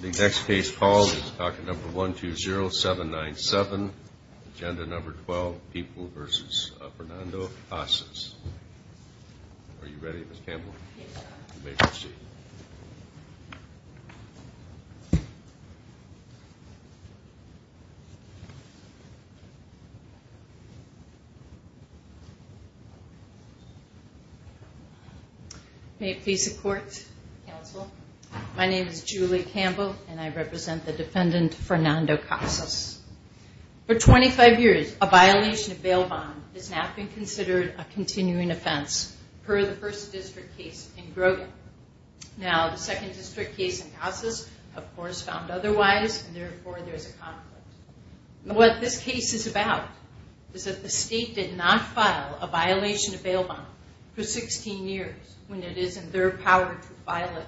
The next case called is document number 120797, agenda number 12, People v. Fernando Casas. Are you ready, Ms. Campbell? Yes, sir. You may proceed. May it please the Court, Counsel, my name is Julie Campbell and I represent the defendant Fernando Casas. For 25 years, a violation of bail bond has not been considered a continuing offense per the first district case in Grogan. Now, the second district case in Casas, of course, found otherwise and therefore there's a conflict. What this case is about is that the state did not file a violation of bail bond for 16 years when it is in their power to file it.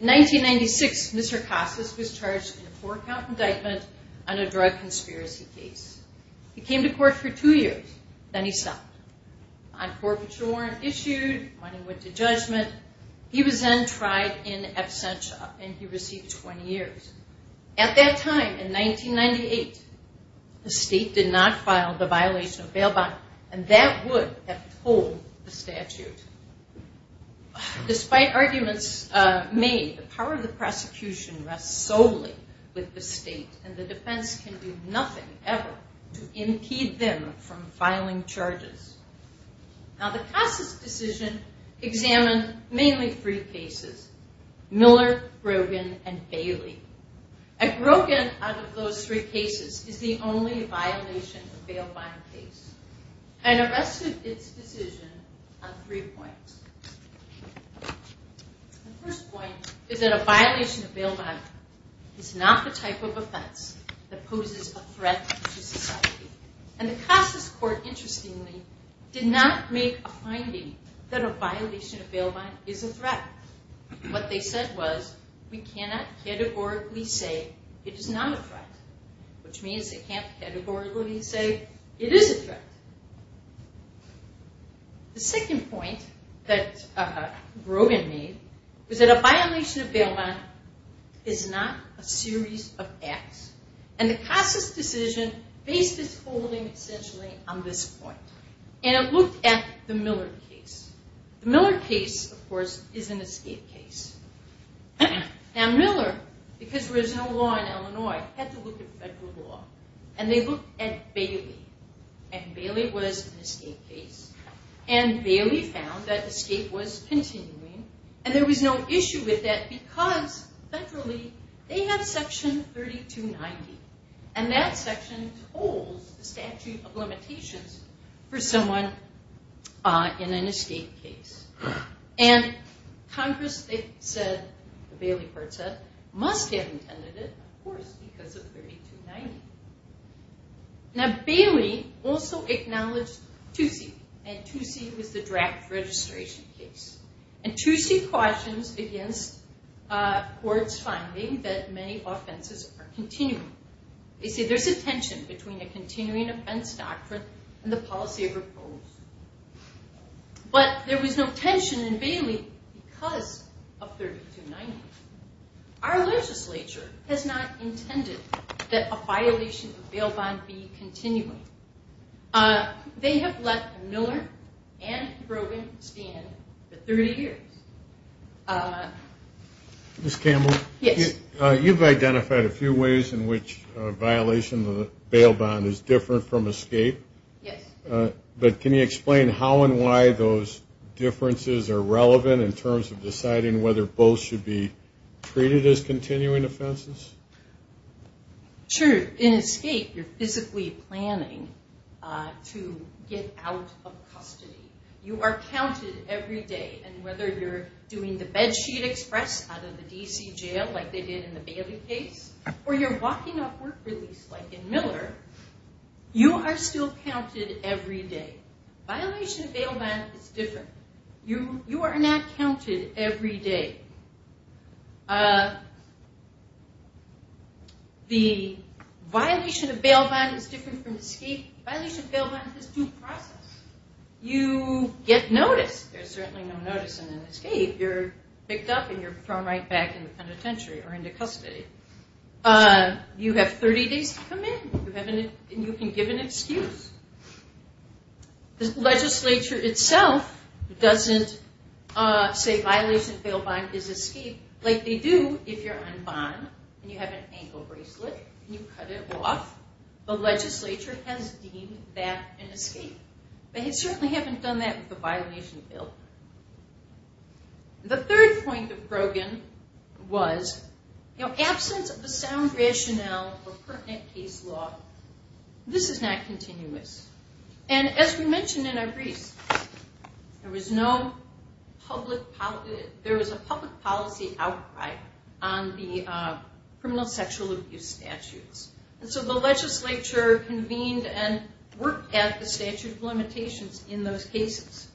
In 1996, Mr. Casas was charged in a four count indictment on a drug conspiracy case. He came to court for two years, then he stopped. On corporate warrant issued, money went to judgment. He was then tried in absentia and he received 20 years. At that time, in 1998, the state did not file the violation of bail bond and that would have told the statute. Despite arguments made, the power of the prosecution rests solely with the state and the defense can do nothing ever to impede them from filing charges. Now, the Casas decision examined mainly three cases, Miller, Grogan, and Bailey. And Grogan, out of those three cases, is the only violation of bail bond case. And arrested its decision on three points. The first point is that a violation of bail bond is not the type of offense that poses a threat to society. And the Casas court, interestingly, did not make a finding that a violation of bail bond is a threat. What they said was, we cannot categorically say it is not a threat. Which means they can't categorically say it is a threat. The second point that Grogan made was that a violation of bail bond is not a series of acts. And the Casas decision based its holding essentially on this point. And it looked at the Miller case. The Miller case, of course, is an escape case. Now, Miller, because there is no law in Illinois, had to look at federal law. And they looked at Bailey. And Bailey was an escape case. And Bailey found that escape was continuing. And there was no issue with that because federally, they have section 3290. And that section holds the statute of limitations for someone in an escape case. And Congress said, the Bailey court said, must have intended it, of course, because of 3290. Now, Bailey also acknowledged Toosie. And Toosie was the draft registration case. And Toosie questions against court's finding that many offenses are continuing. They say there's a tension between a continuing offense doctrine and the policy of repose. But there was no tension in Bailey because of 3290. Our legislature has not intended that a violation of bail bond be continuing. They have let Miller and Brogan stand for 30 years. Ms. Campbell? Yes. You've identified a few ways in which a violation of the bail bond is different from escape. Yes. But can you explain how and why those differences are relevant in terms of deciding whether both should be treated as continuing offenses? Sure. In escape, you're physically planning to get out of custody. You are counted every day. And whether you're doing the bed sheet express out of the D.C. jail like they did in the Bailey case, or you're walking off work release like in Miller, you are still counted every day. Violation of bail bond is different. You are not counted every day. The violation of bail bond is different from escape. Violation of bail bond is due process. You get notice. There's certainly no notice in an escape. You're picked up and you're thrown right back in the penitentiary or into custody. You have 30 days to come in. You can give an excuse. The legislature itself doesn't say violation of bail bond is escape like they do if you're unbond and you have an ankle bracelet and you cut it off. The legislature has deemed that an escape. They certainly haven't done that with the violation of bail bond. The third point of Grogan was absence of the sound rationale for pertinent case law. This is not continuous. And as we mentioned in our briefs, there was a public policy outcry on the criminal sexual abuse statutes. And so the legislature convened and worked at the statute of limitations in those cases.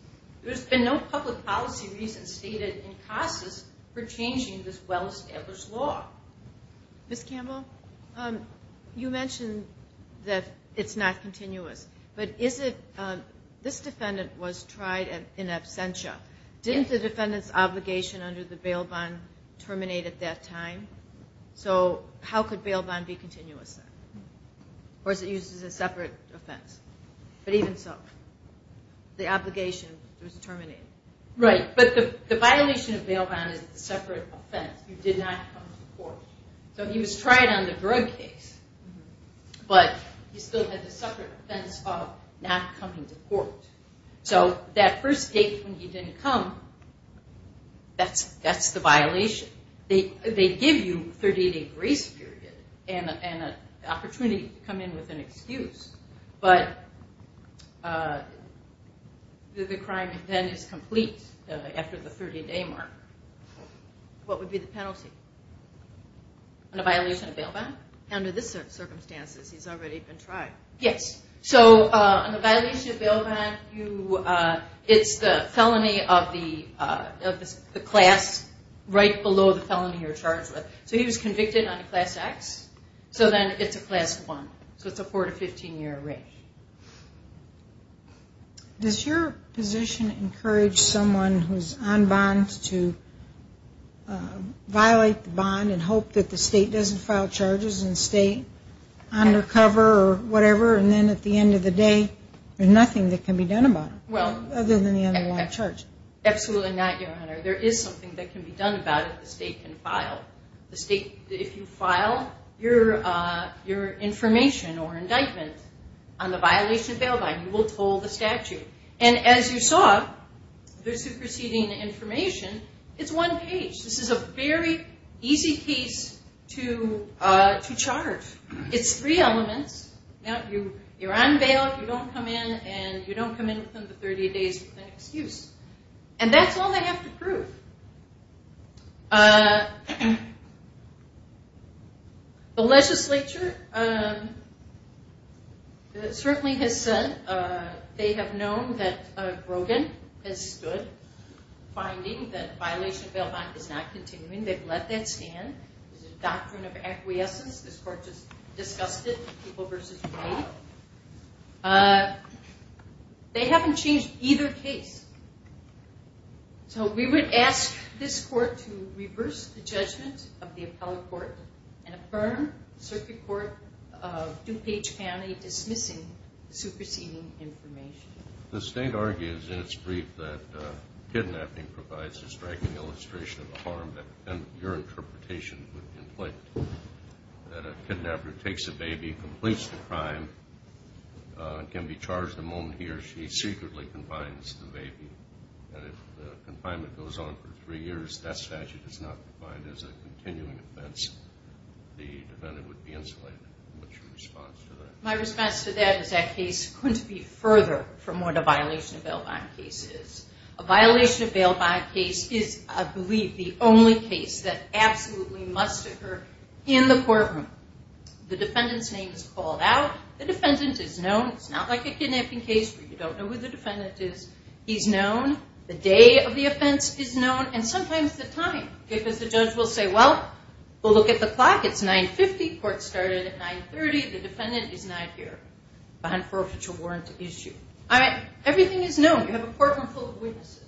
There's been no public policy reason stated in CASA's for changing this well-established law. Ms. Campbell, you mentioned that it's not continuous. But this defendant was tried in absentia. Didn't the defendant's obligation under the bail bond terminate at that time? So how could bail bond be continuous then? Or is it used as a separate offense? But even so, the obligation was terminated. Right. But the violation of bail bond is a separate offense. You did not come to court. So he was tried on the drug case, but he still had the separate offense of not coming to court. So that first date when he didn't come, that's the violation. They give you a 30-day grace period and an opportunity to come in with an excuse. But the crime then is complete after the 30-day mark. What would be the penalty? On a violation of bail bond? Under these circumstances, he's already been tried. Yes. So on a violation of bail bond, it's the felony of the class right below the felony you're charged with. So he was convicted on a Class X. So then it's a Class I. So it's a 4- to 15-year range. Does your position encourage someone who's on bond to violate the bond and hope that the state doesn't file charges and stay undercover or whatever, and then at the end of the day, there's nothing that can be done about it other than the underlying charge? Absolutely not, Your Honor. There is something that can be done about it the state can file. If you file your information or indictment on the violation of bail bond, you will toll the statute. And as you saw, the superseding information, it's one page. This is a very easy case to charge. It's three elements. You're on bail, you don't come in, and you don't come in within the 30 days with an excuse. And that's all they have to prove. The legislature certainly has said they have known that Brogan has stood, finding that violation of bail bond is not continuing. They've let that stand. There's a doctrine of acquiescence. This Court just discussed it, people versus the state. They haven't changed either case. So we would ask this Court to reverse the judgment of the appellate court and affirm Circuit Court of DuPage County dismissing superseding information. The state argues in its brief that kidnapping provides a striking illustration of the harm that your interpretation would inflict, that a kidnapper takes a baby, completes the crime, and can be charged the moment he or she secretly confines the baby. And if the confinement goes on for three years, that statute is not defined as a continuing offense. The defendant would be insulated. What's your response to that? My response to that is that case couldn't be further from what a violation of bail bond case is. A violation of bail bond case is, I believe, the only case that absolutely must occur in the courtroom. The defendant's name is called out. The defendant is known. It's not like a kidnapping case where you don't know who the defendant is. He's known. The day of the offense is known, and sometimes the time, because the judge will say, well, we'll look at the clock. It's 9.50. Court started at 9.30. The defendant is not here on forfeiture warrant issue. All right. Everything is known. You have a courtroom full of witnesses.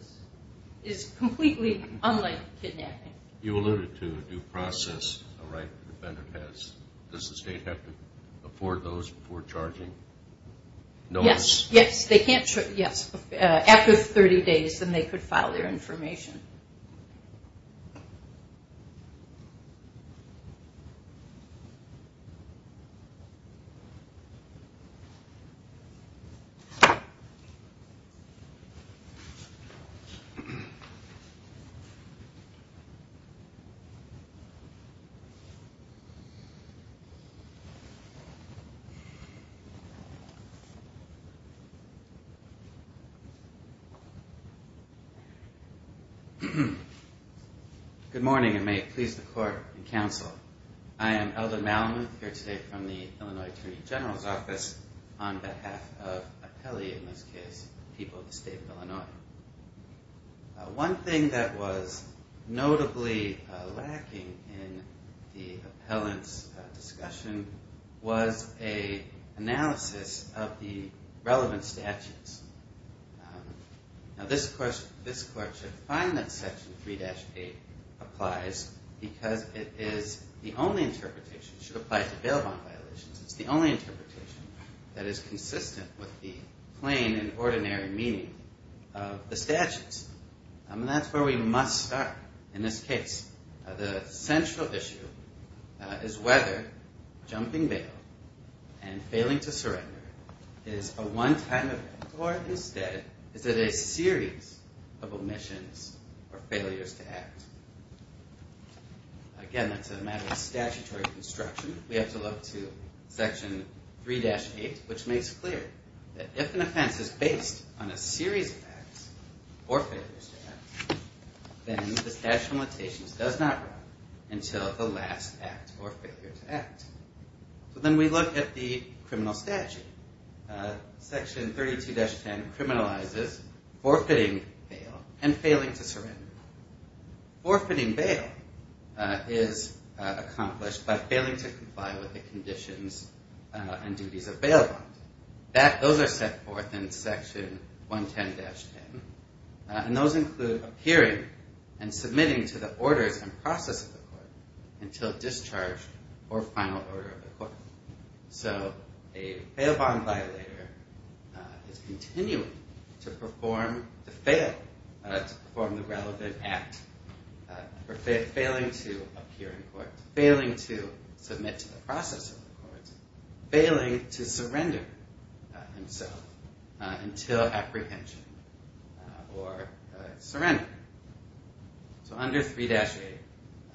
It is completely unlike kidnapping. You alluded to due process, a right the defendant has. Does the state have to afford those before charging? No. Yes. They can't. Yes. After 30 days, then they could file their information. Good morning, and may it please the court and counsel. I am Elder Malamuth here today from the Illinois Attorney General's Office on behalf of appellee, in this case, people of the state of Illinois. One thing that was notably lacking in the appellant's discussion was an analysis of the relevant statutes. Now, this court should find that Section 3-8 applies because it is the only interpretation. It should apply to bail bond violations. It's the only interpretation that is consistent with the plain and ordinary meaning of the statutes, and that's where we must start in this case. The central issue is whether jumping bail and failing to surrender is a one-time event or, instead, is it a series of omissions or failures to act? Again, that's a matter of statutory construction. We have to look to Section 3-8, which makes clear that if an offense is based on a series of acts or failures to act, then the statute of limitations does not run until the last act or failure to act. So then we look at the criminal statute. Section 32-10 criminalizes forfeiting bail and failing to surrender. Forfeiting bail is accomplished by failing to comply with the conditions and duties of bail bonds. Those are set forth in Section 110-10, and those include appearing and submitting to the orders and process of the court until discharged or final order of the court. So a bail bond violator is continuing to perform the relevant act for failing to appear in court, failing to submit to the process of the court, failing to surrender himself until apprehension or surrender. So under 3-8,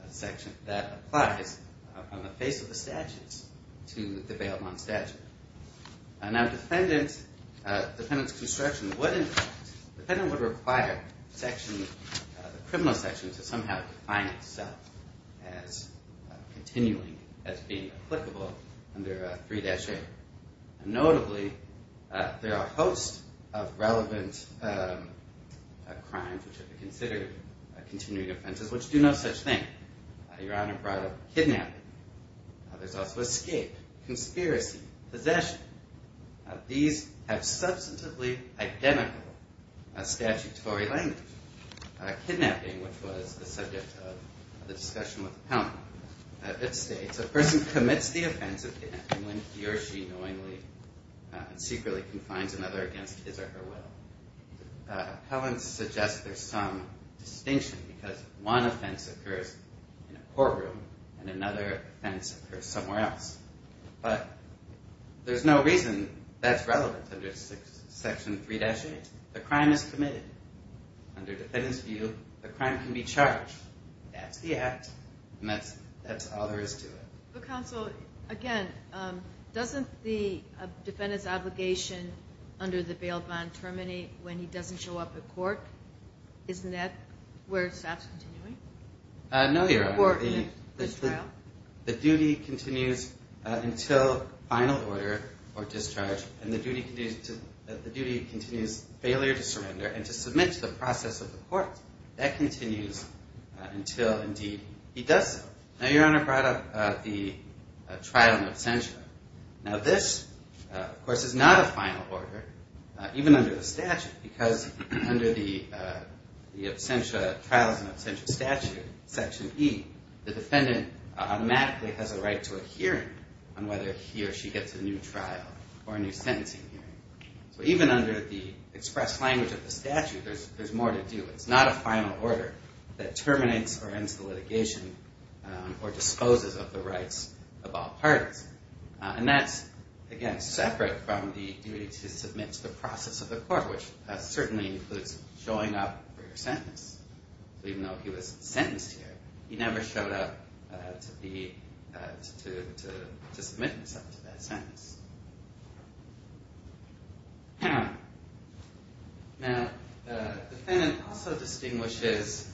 a section that applies on the face of the statutes to the bail bond statute. Now, defendant's construction would require the criminal section to somehow define itself as continuing, as being applicable under 3-8. Notably, there are a host of relevant crimes which are considered continuing offenses which do no such thing. Your Honor brought up kidnapping. There's also escape, conspiracy, possession. These have substantively identical statutory language. Kidnapping, which was the subject of the discussion with the panel, states a person commits the offense of kidnapping when he or she knowingly and secretly confines another against his or her will. Appellants suggest there's some distinction because one offense occurs in a courtroom and another offense occurs somewhere else. But there's no reason that's relevant under Section 3-8. The crime is committed. Under defendant's view, the crime can be charged. That's the act, and that's all there is to it. Counsel, again, doesn't the defendant's obligation under the bail bond terminate when he doesn't show up at court? Isn't that where it stops continuing? No, Your Honor. The duty continues until final order or discharge, and the duty continues failure to surrender and to submit to the process of the court. That continues until, indeed, he does so. Now, Your Honor brought up the trial in absentia. Now, this, of course, is not a final order, even under the statute, because under the trials in absentia statute, Section E, the defendant automatically has a right to a hearing on whether he or she gets a new trial or a new sentencing hearing. So even under the express language of the statute, there's more to do. It's not a final order that terminates or ends the litigation or disposes of the rights of all parties. And that's, again, separate from the duty to submit to the process of the court, which certainly includes showing up for your sentence. So even though he was sentenced here, he never showed up to submit himself to that sentence. Now, the defendant also distinguishes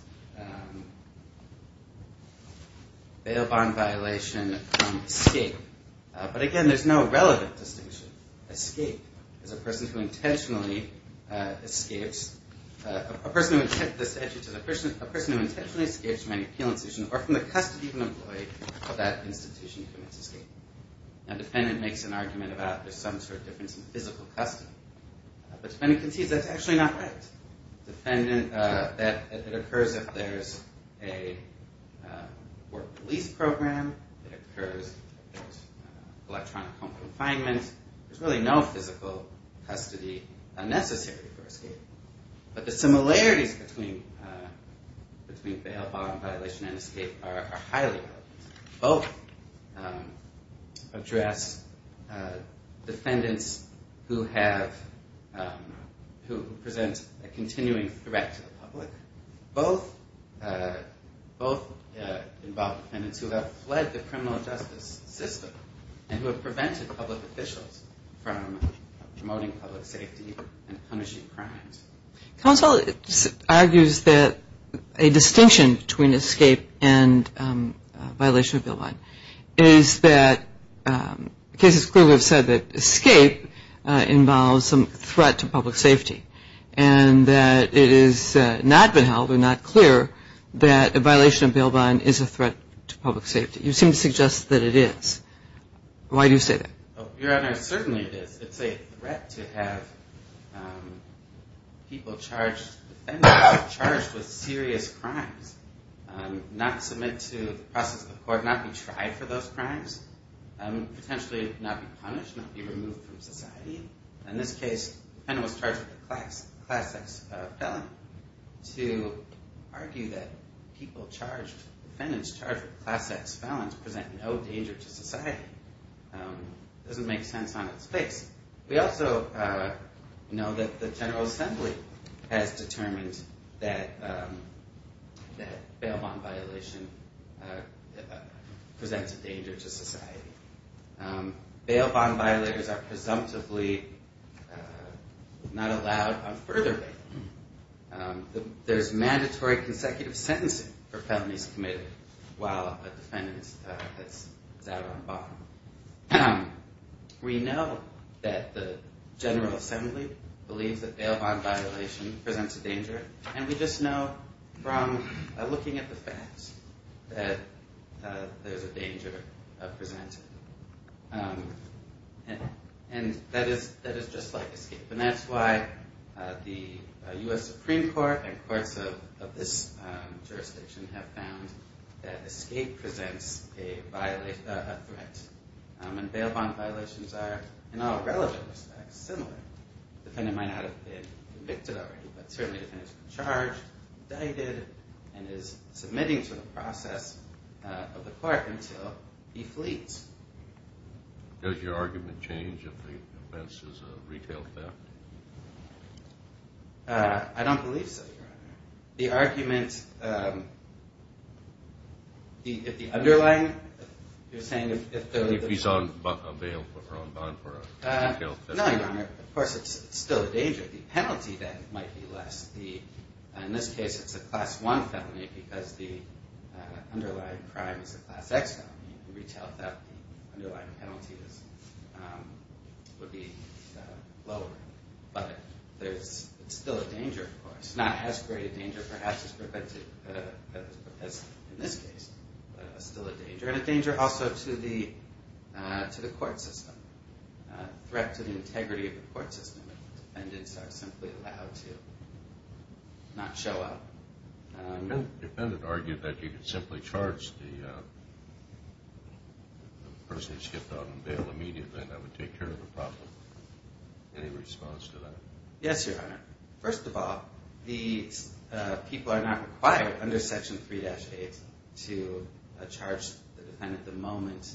bail bond violation from escape. But, again, there's no relevant distinction. Escape is a person who intentionally escapes. The statute says, a person who intentionally escapes from an appeal institution or from the custody of an employee of that institution commits escape. Now, the defendant makes an argument about there's some sort of difference in physical custody. But the defendant concedes that's actually not right. It occurs if there's a work police program. It occurs if there's electronic home confinement. There's really no physical custody necessary for escape. But the similarities between bail bond violation and escape are highly relevant. Both address defendants who present a continuing threat to the public. Both involve defendants who have fled the criminal justice system and who have prevented public officials from promoting public safety and punishing crimes. Counsel argues that a distinction between escape and violation of bail bond is that cases clearly have said that escape involves some threat to public safety and that it has not been held or not clear that a violation of bail bond is a threat to public safety. You seem to suggest that it is. Why do you say that? Your Honor, certainly it is. It's a threat to have people charged, defendants charged with serious crimes, not submit to the process of the court, not be tried for those crimes, potentially not be punished, not be removed from society. In this case, the defendant was charged with a Class X felon. To argue that people charged, defendants charged with Class X felons present no danger to society doesn't make sense on its face. We also know that the General Assembly has determined that bail bond violation presents a danger to society. Bail bond violators are presumptively not allowed on further bail. There's mandatory consecutive sentencing for felonies committed while a defendant is out on bond. We know that the General Assembly believes that bail bond violation presents a danger, and we just know from looking at the facts that there's a danger presented. And that is just like escape. And that's why the U.S. Supreme Court and courts of this jurisdiction have found that escape presents a threat. And bail bond violations are, in all relevant respects, similar. The defendant might not have been convicted already, but certainly the defendant's been charged, and is submitting to the process of the court until he flees. Does your argument change if the offense is a retail theft? I don't believe so, Your Honor. The argument, if the underlying, you're saying if the- If he's on bail or on bond for a retail theft. No, Your Honor. Of course, it's still a danger. But the penalty then might be less. In this case, it's a Class I felony because the underlying crime is a Class X felony. A retail theft, the underlying penalty would be lower. But it's still a danger, of course. Not as great a danger, perhaps, as in this case. But it's still a danger. And a danger also to the court system. A threat to the integrity of the court system. If the defendants are simply allowed to not show up. The defendant argued that you could simply charge the person who skipped out on bail immediately, and that would take care of the problem. Any response to that? Yes, Your Honor. First of all, the people are not required under Section 3-8 to charge the defendant the moment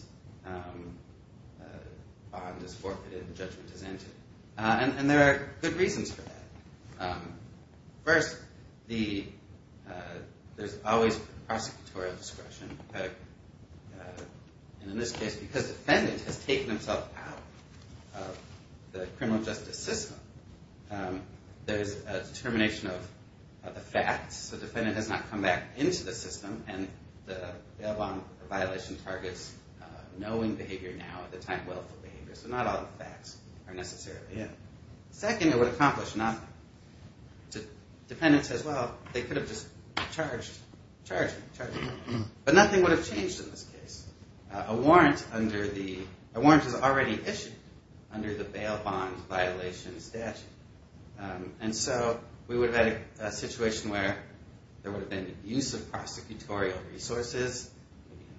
bond is forfeited and judgment is entered. And there are good reasons for that. First, there's always prosecutorial discretion. And in this case, because the defendant has taken himself out of the criminal justice system, there's a determination of the facts. So the defendant has not come back into the system, and the bail bond violation targets knowing behavior now at the time, willful behavior. So not all the facts are necessarily in. Second, it would accomplish nothing. The defendant says, well, they could have just charged me. But nothing would have changed in this case. A warrant has already issued under the bail bond violation statute. And so we would have had a situation where there would have been abuse of prosecutorial resources,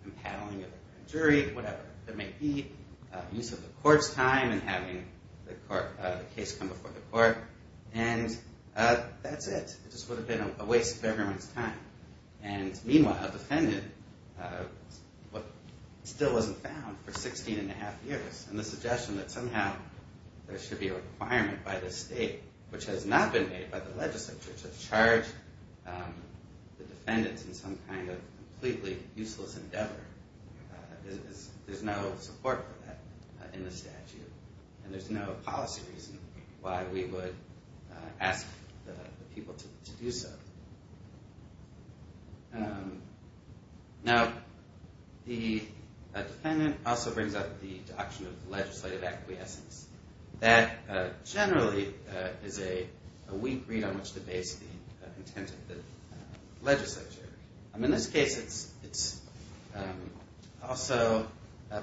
impaling of a jury, whatever that may be, use of the court's time in having the case come before the court. And that's it. It just would have been a waste of everyone's time. And meanwhile, the defendant still wasn't found for 16 and a half years. And the suggestion that somehow there should be a requirement by the state, which has not been made by the legislature, to charge the defendants in some kind of completely useless endeavor, there's no support for that in the statute. And there's no policy reason why we would ask the people to do so. Now, the defendant also brings up the doctrine of legislative acquiescence. That generally is a weak read on which to base the intent of the legislature. In this case, it also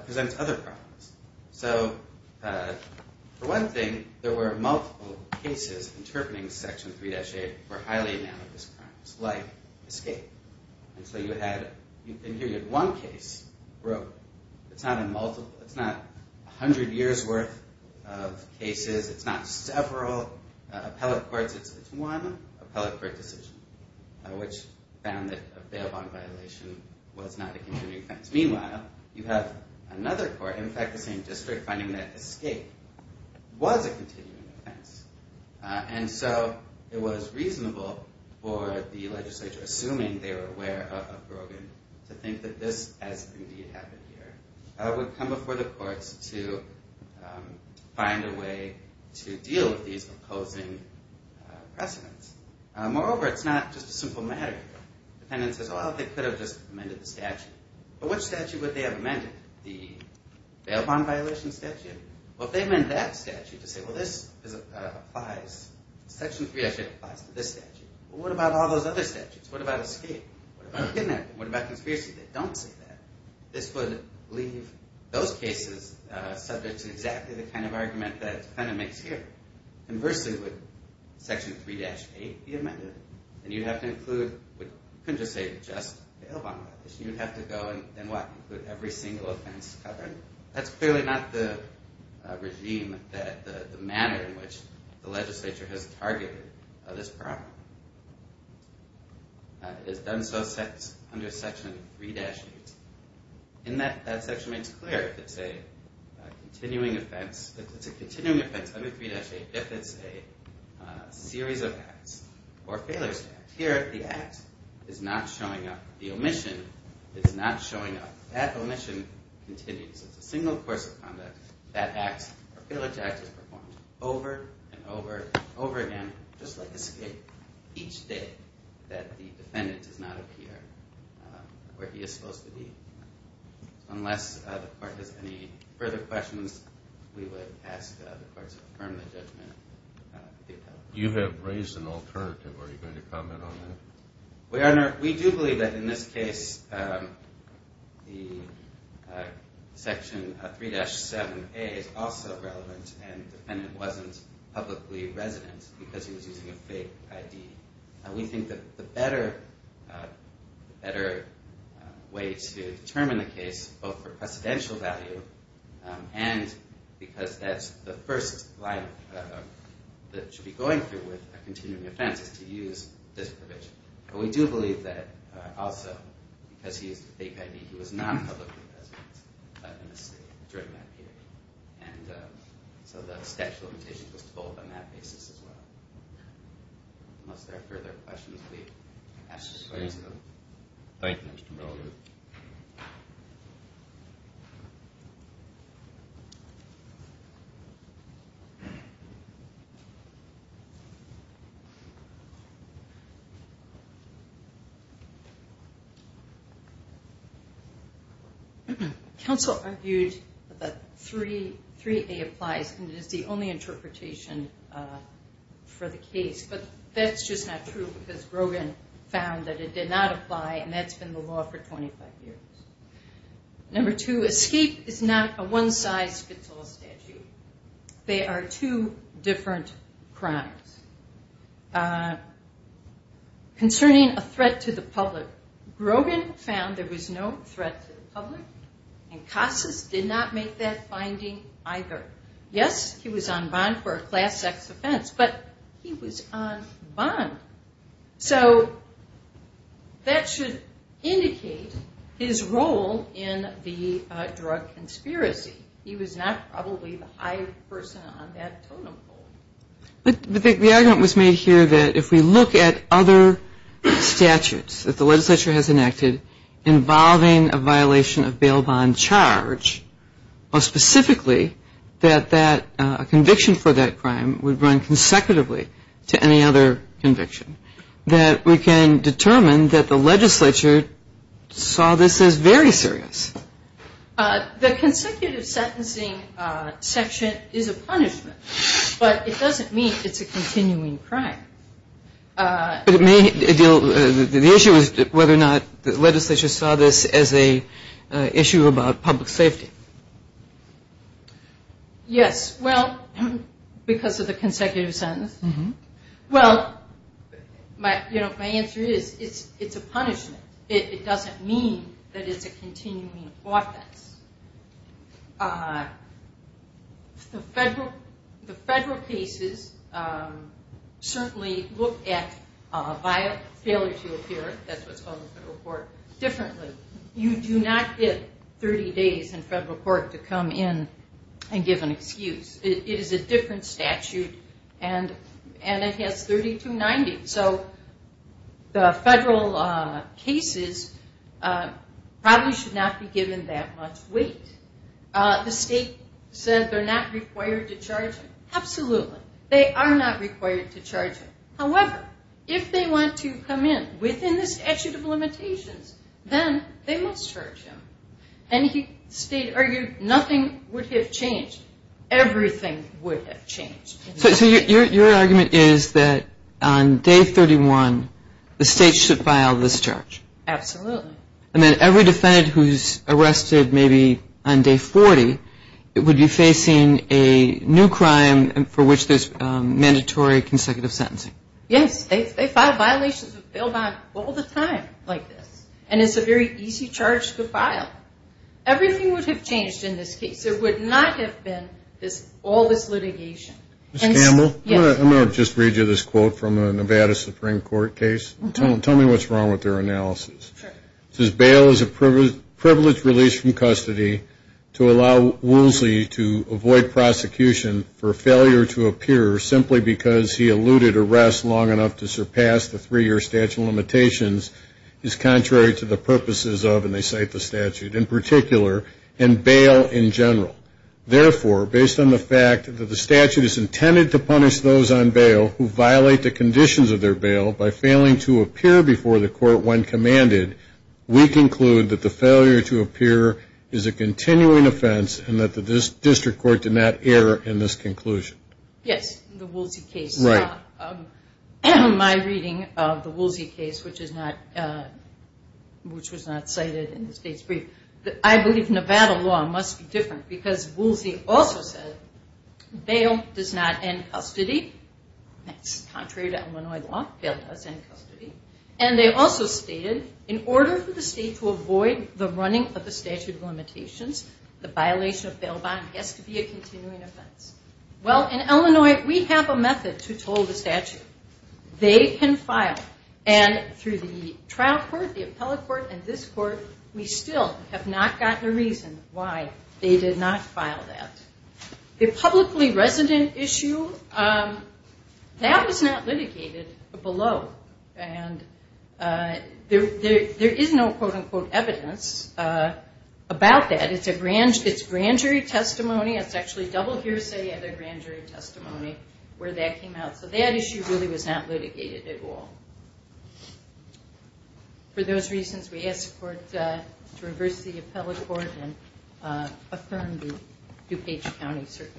presents other problems. So for one thing, there were multiple cases interpreting Section 3-8 for highly analogous crimes, like escape. And so you had one case where it's not a hundred years' worth of cases. It's not several appellate courts. It's one appellate court decision, which found that a bail bond violation was not a continuing offense. Just meanwhile, you have another court, in fact the same district, finding that escape was a continuing offense. And so it was reasonable for the legislature, assuming they were aware of Brogan, to think that this, as indeed happened here, would come before the courts to find a way to deal with these opposing precedents. Moreover, it's not just a simple matter. The defendant says, well, they could have just amended the statute. But which statute would they have amended? The bail bond violation statute? Well, if they meant that statute to say, well, Section 3-8 applies to this statute, what about all those other statutes? What about escape? What about kidnapping? What about conspiracy? They don't say that. This would leave those cases subject to exactly the kind of argument that the defendant makes here. Conversely, would Section 3-8 be amended? And you'd have to include, you couldn't just say just a bail bond violation. You'd have to go and what? Include every single offense covered. That's clearly not the regime, the manner in which the legislature has targeted this problem. It has done so under Section 3-8. And that section makes clear if it's a continuing offense. It's a continuing offense under 3-8 if it's a series of acts or a failure to act. Here, the act is not showing up. The omission is not showing up. That omission continues. It's a single course of conduct. That act or failure to act is performed over and over and over again, just like escape, each day that the defendant does not appear where he is supposed to be. Unless the court has any further questions, we would ask the courts to affirm the judgment. You have raised an alternative. Are you going to comment on that? We do believe that in this case the Section 3-7A is also relevant, and the defendant wasn't publicly resident because he was using a fake ID. We think that the better way to determine the case, both for precedential value and because that's the first line that should be going through with a continuing offense, is to use this provision. But we do believe that also, because he used a fake ID, he was not publicly resident during that period. So the statute of limitations was to hold on that basis as well. Unless there are further questions, we'd ask the courts to affirm. Thank you, Mr. Miller. Thank you. Counsel argued that 3-3A applies and is the only interpretation for the case, but that's just not true because Grogan found that it did not apply, and that's been the law for 25 years. Number two, escape is not a one-size-fits-all statute. They are two different crimes. Concerning a threat to the public, Grogan found there was no threat to the public, and Casas did not make that finding either. Yes, he was on bond for a class-X offense, but he was on bond. So that should indicate his role in the drug conspiracy. He was not probably the high person on that totem pole. The argument was made here that if we look at other statutes that the legislature has enacted involving a violation of bail bond charge, or specifically that a conviction for that crime would run consecutively to any other conviction, that we can determine that the legislature saw this as very serious. The consecutive sentencing section is a punishment, but it doesn't mean it's a continuing crime. The issue is whether or not the legislature saw this as an issue about public safety. Yes, well, because of the consecutive sentence. Well, my answer is it's a punishment. It doesn't mean that it's a continuing offense. The federal cases certainly look at failure to appear, that's what's called the federal court, differently. You do not get 30 days in federal court to come in and give an excuse. It is a different statute, and it has 3290. So the federal cases probably should not be given that much weight. The state said they're not required to charge him. Absolutely, they are not required to charge him. However, if they want to come in within the statute of limitations, then they must charge him. And the state argued nothing would have changed. Everything would have changed. So your argument is that on day 31, the state should file this charge. Absolutely. And then every defendant who's arrested maybe on day 40 would be facing a new crime for which there's mandatory consecutive sentencing. Yes, they file violations of bail bond all the time like this, and it's a very easy charge to file. Everything would have changed in this case. There would not have been all this litigation. Ms. Campbell, I'm going to just read you this quote from a Nevada Supreme Court case. Tell me what's wrong with their analysis. It says, Bail is a privileged release from custody to allow Woolsey to avoid prosecution for failure to appear simply because he eluded arrest long enough to surpass the three-year statute of limitations is contrary to the purposes of, and they cite the statute in particular, and bail in general. Therefore, based on the fact that the statute is intended to punish those on bail who violate the conditions of their bail by failing to appear before the court when commanded, we conclude that the failure to appear is a continuing offense and that the district court did not err in this conclusion. Yes, the Woolsey case. Right. My reading of the Woolsey case, which was not cited in the state's brief, I believe Nevada law must be different because Woolsey also said bail does not end custody. That's contrary to Illinois law. Bail does end custody. And they also stated in order for the state to avoid the running of the statute of limitations, the violation of bail bond has to be a continuing offense. Well, in Illinois, we have a method to toll the statute. They can file, and through the trial court, the appellate court, and this court, we still have not gotten a reason why they did not file that. The publicly resident issue, that was not litigated below. And there is no, quote, unquote, evidence about that. It's grand jury testimony. It's actually double hearsay and a grand jury testimony where that came out. So that issue really was not litigated at all. For those reasons, we ask the court to reverse the appellate court and affirm the DuPage County Circuit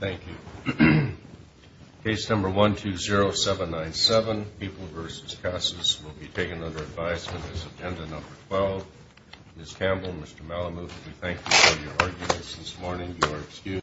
Court. Thank you. Case number 120797, People v. Casas, will be taken under advisement as agenda number 12. Ms. Campbell, Mr. Malamuth, we thank you for your arguments this morning. You are excused.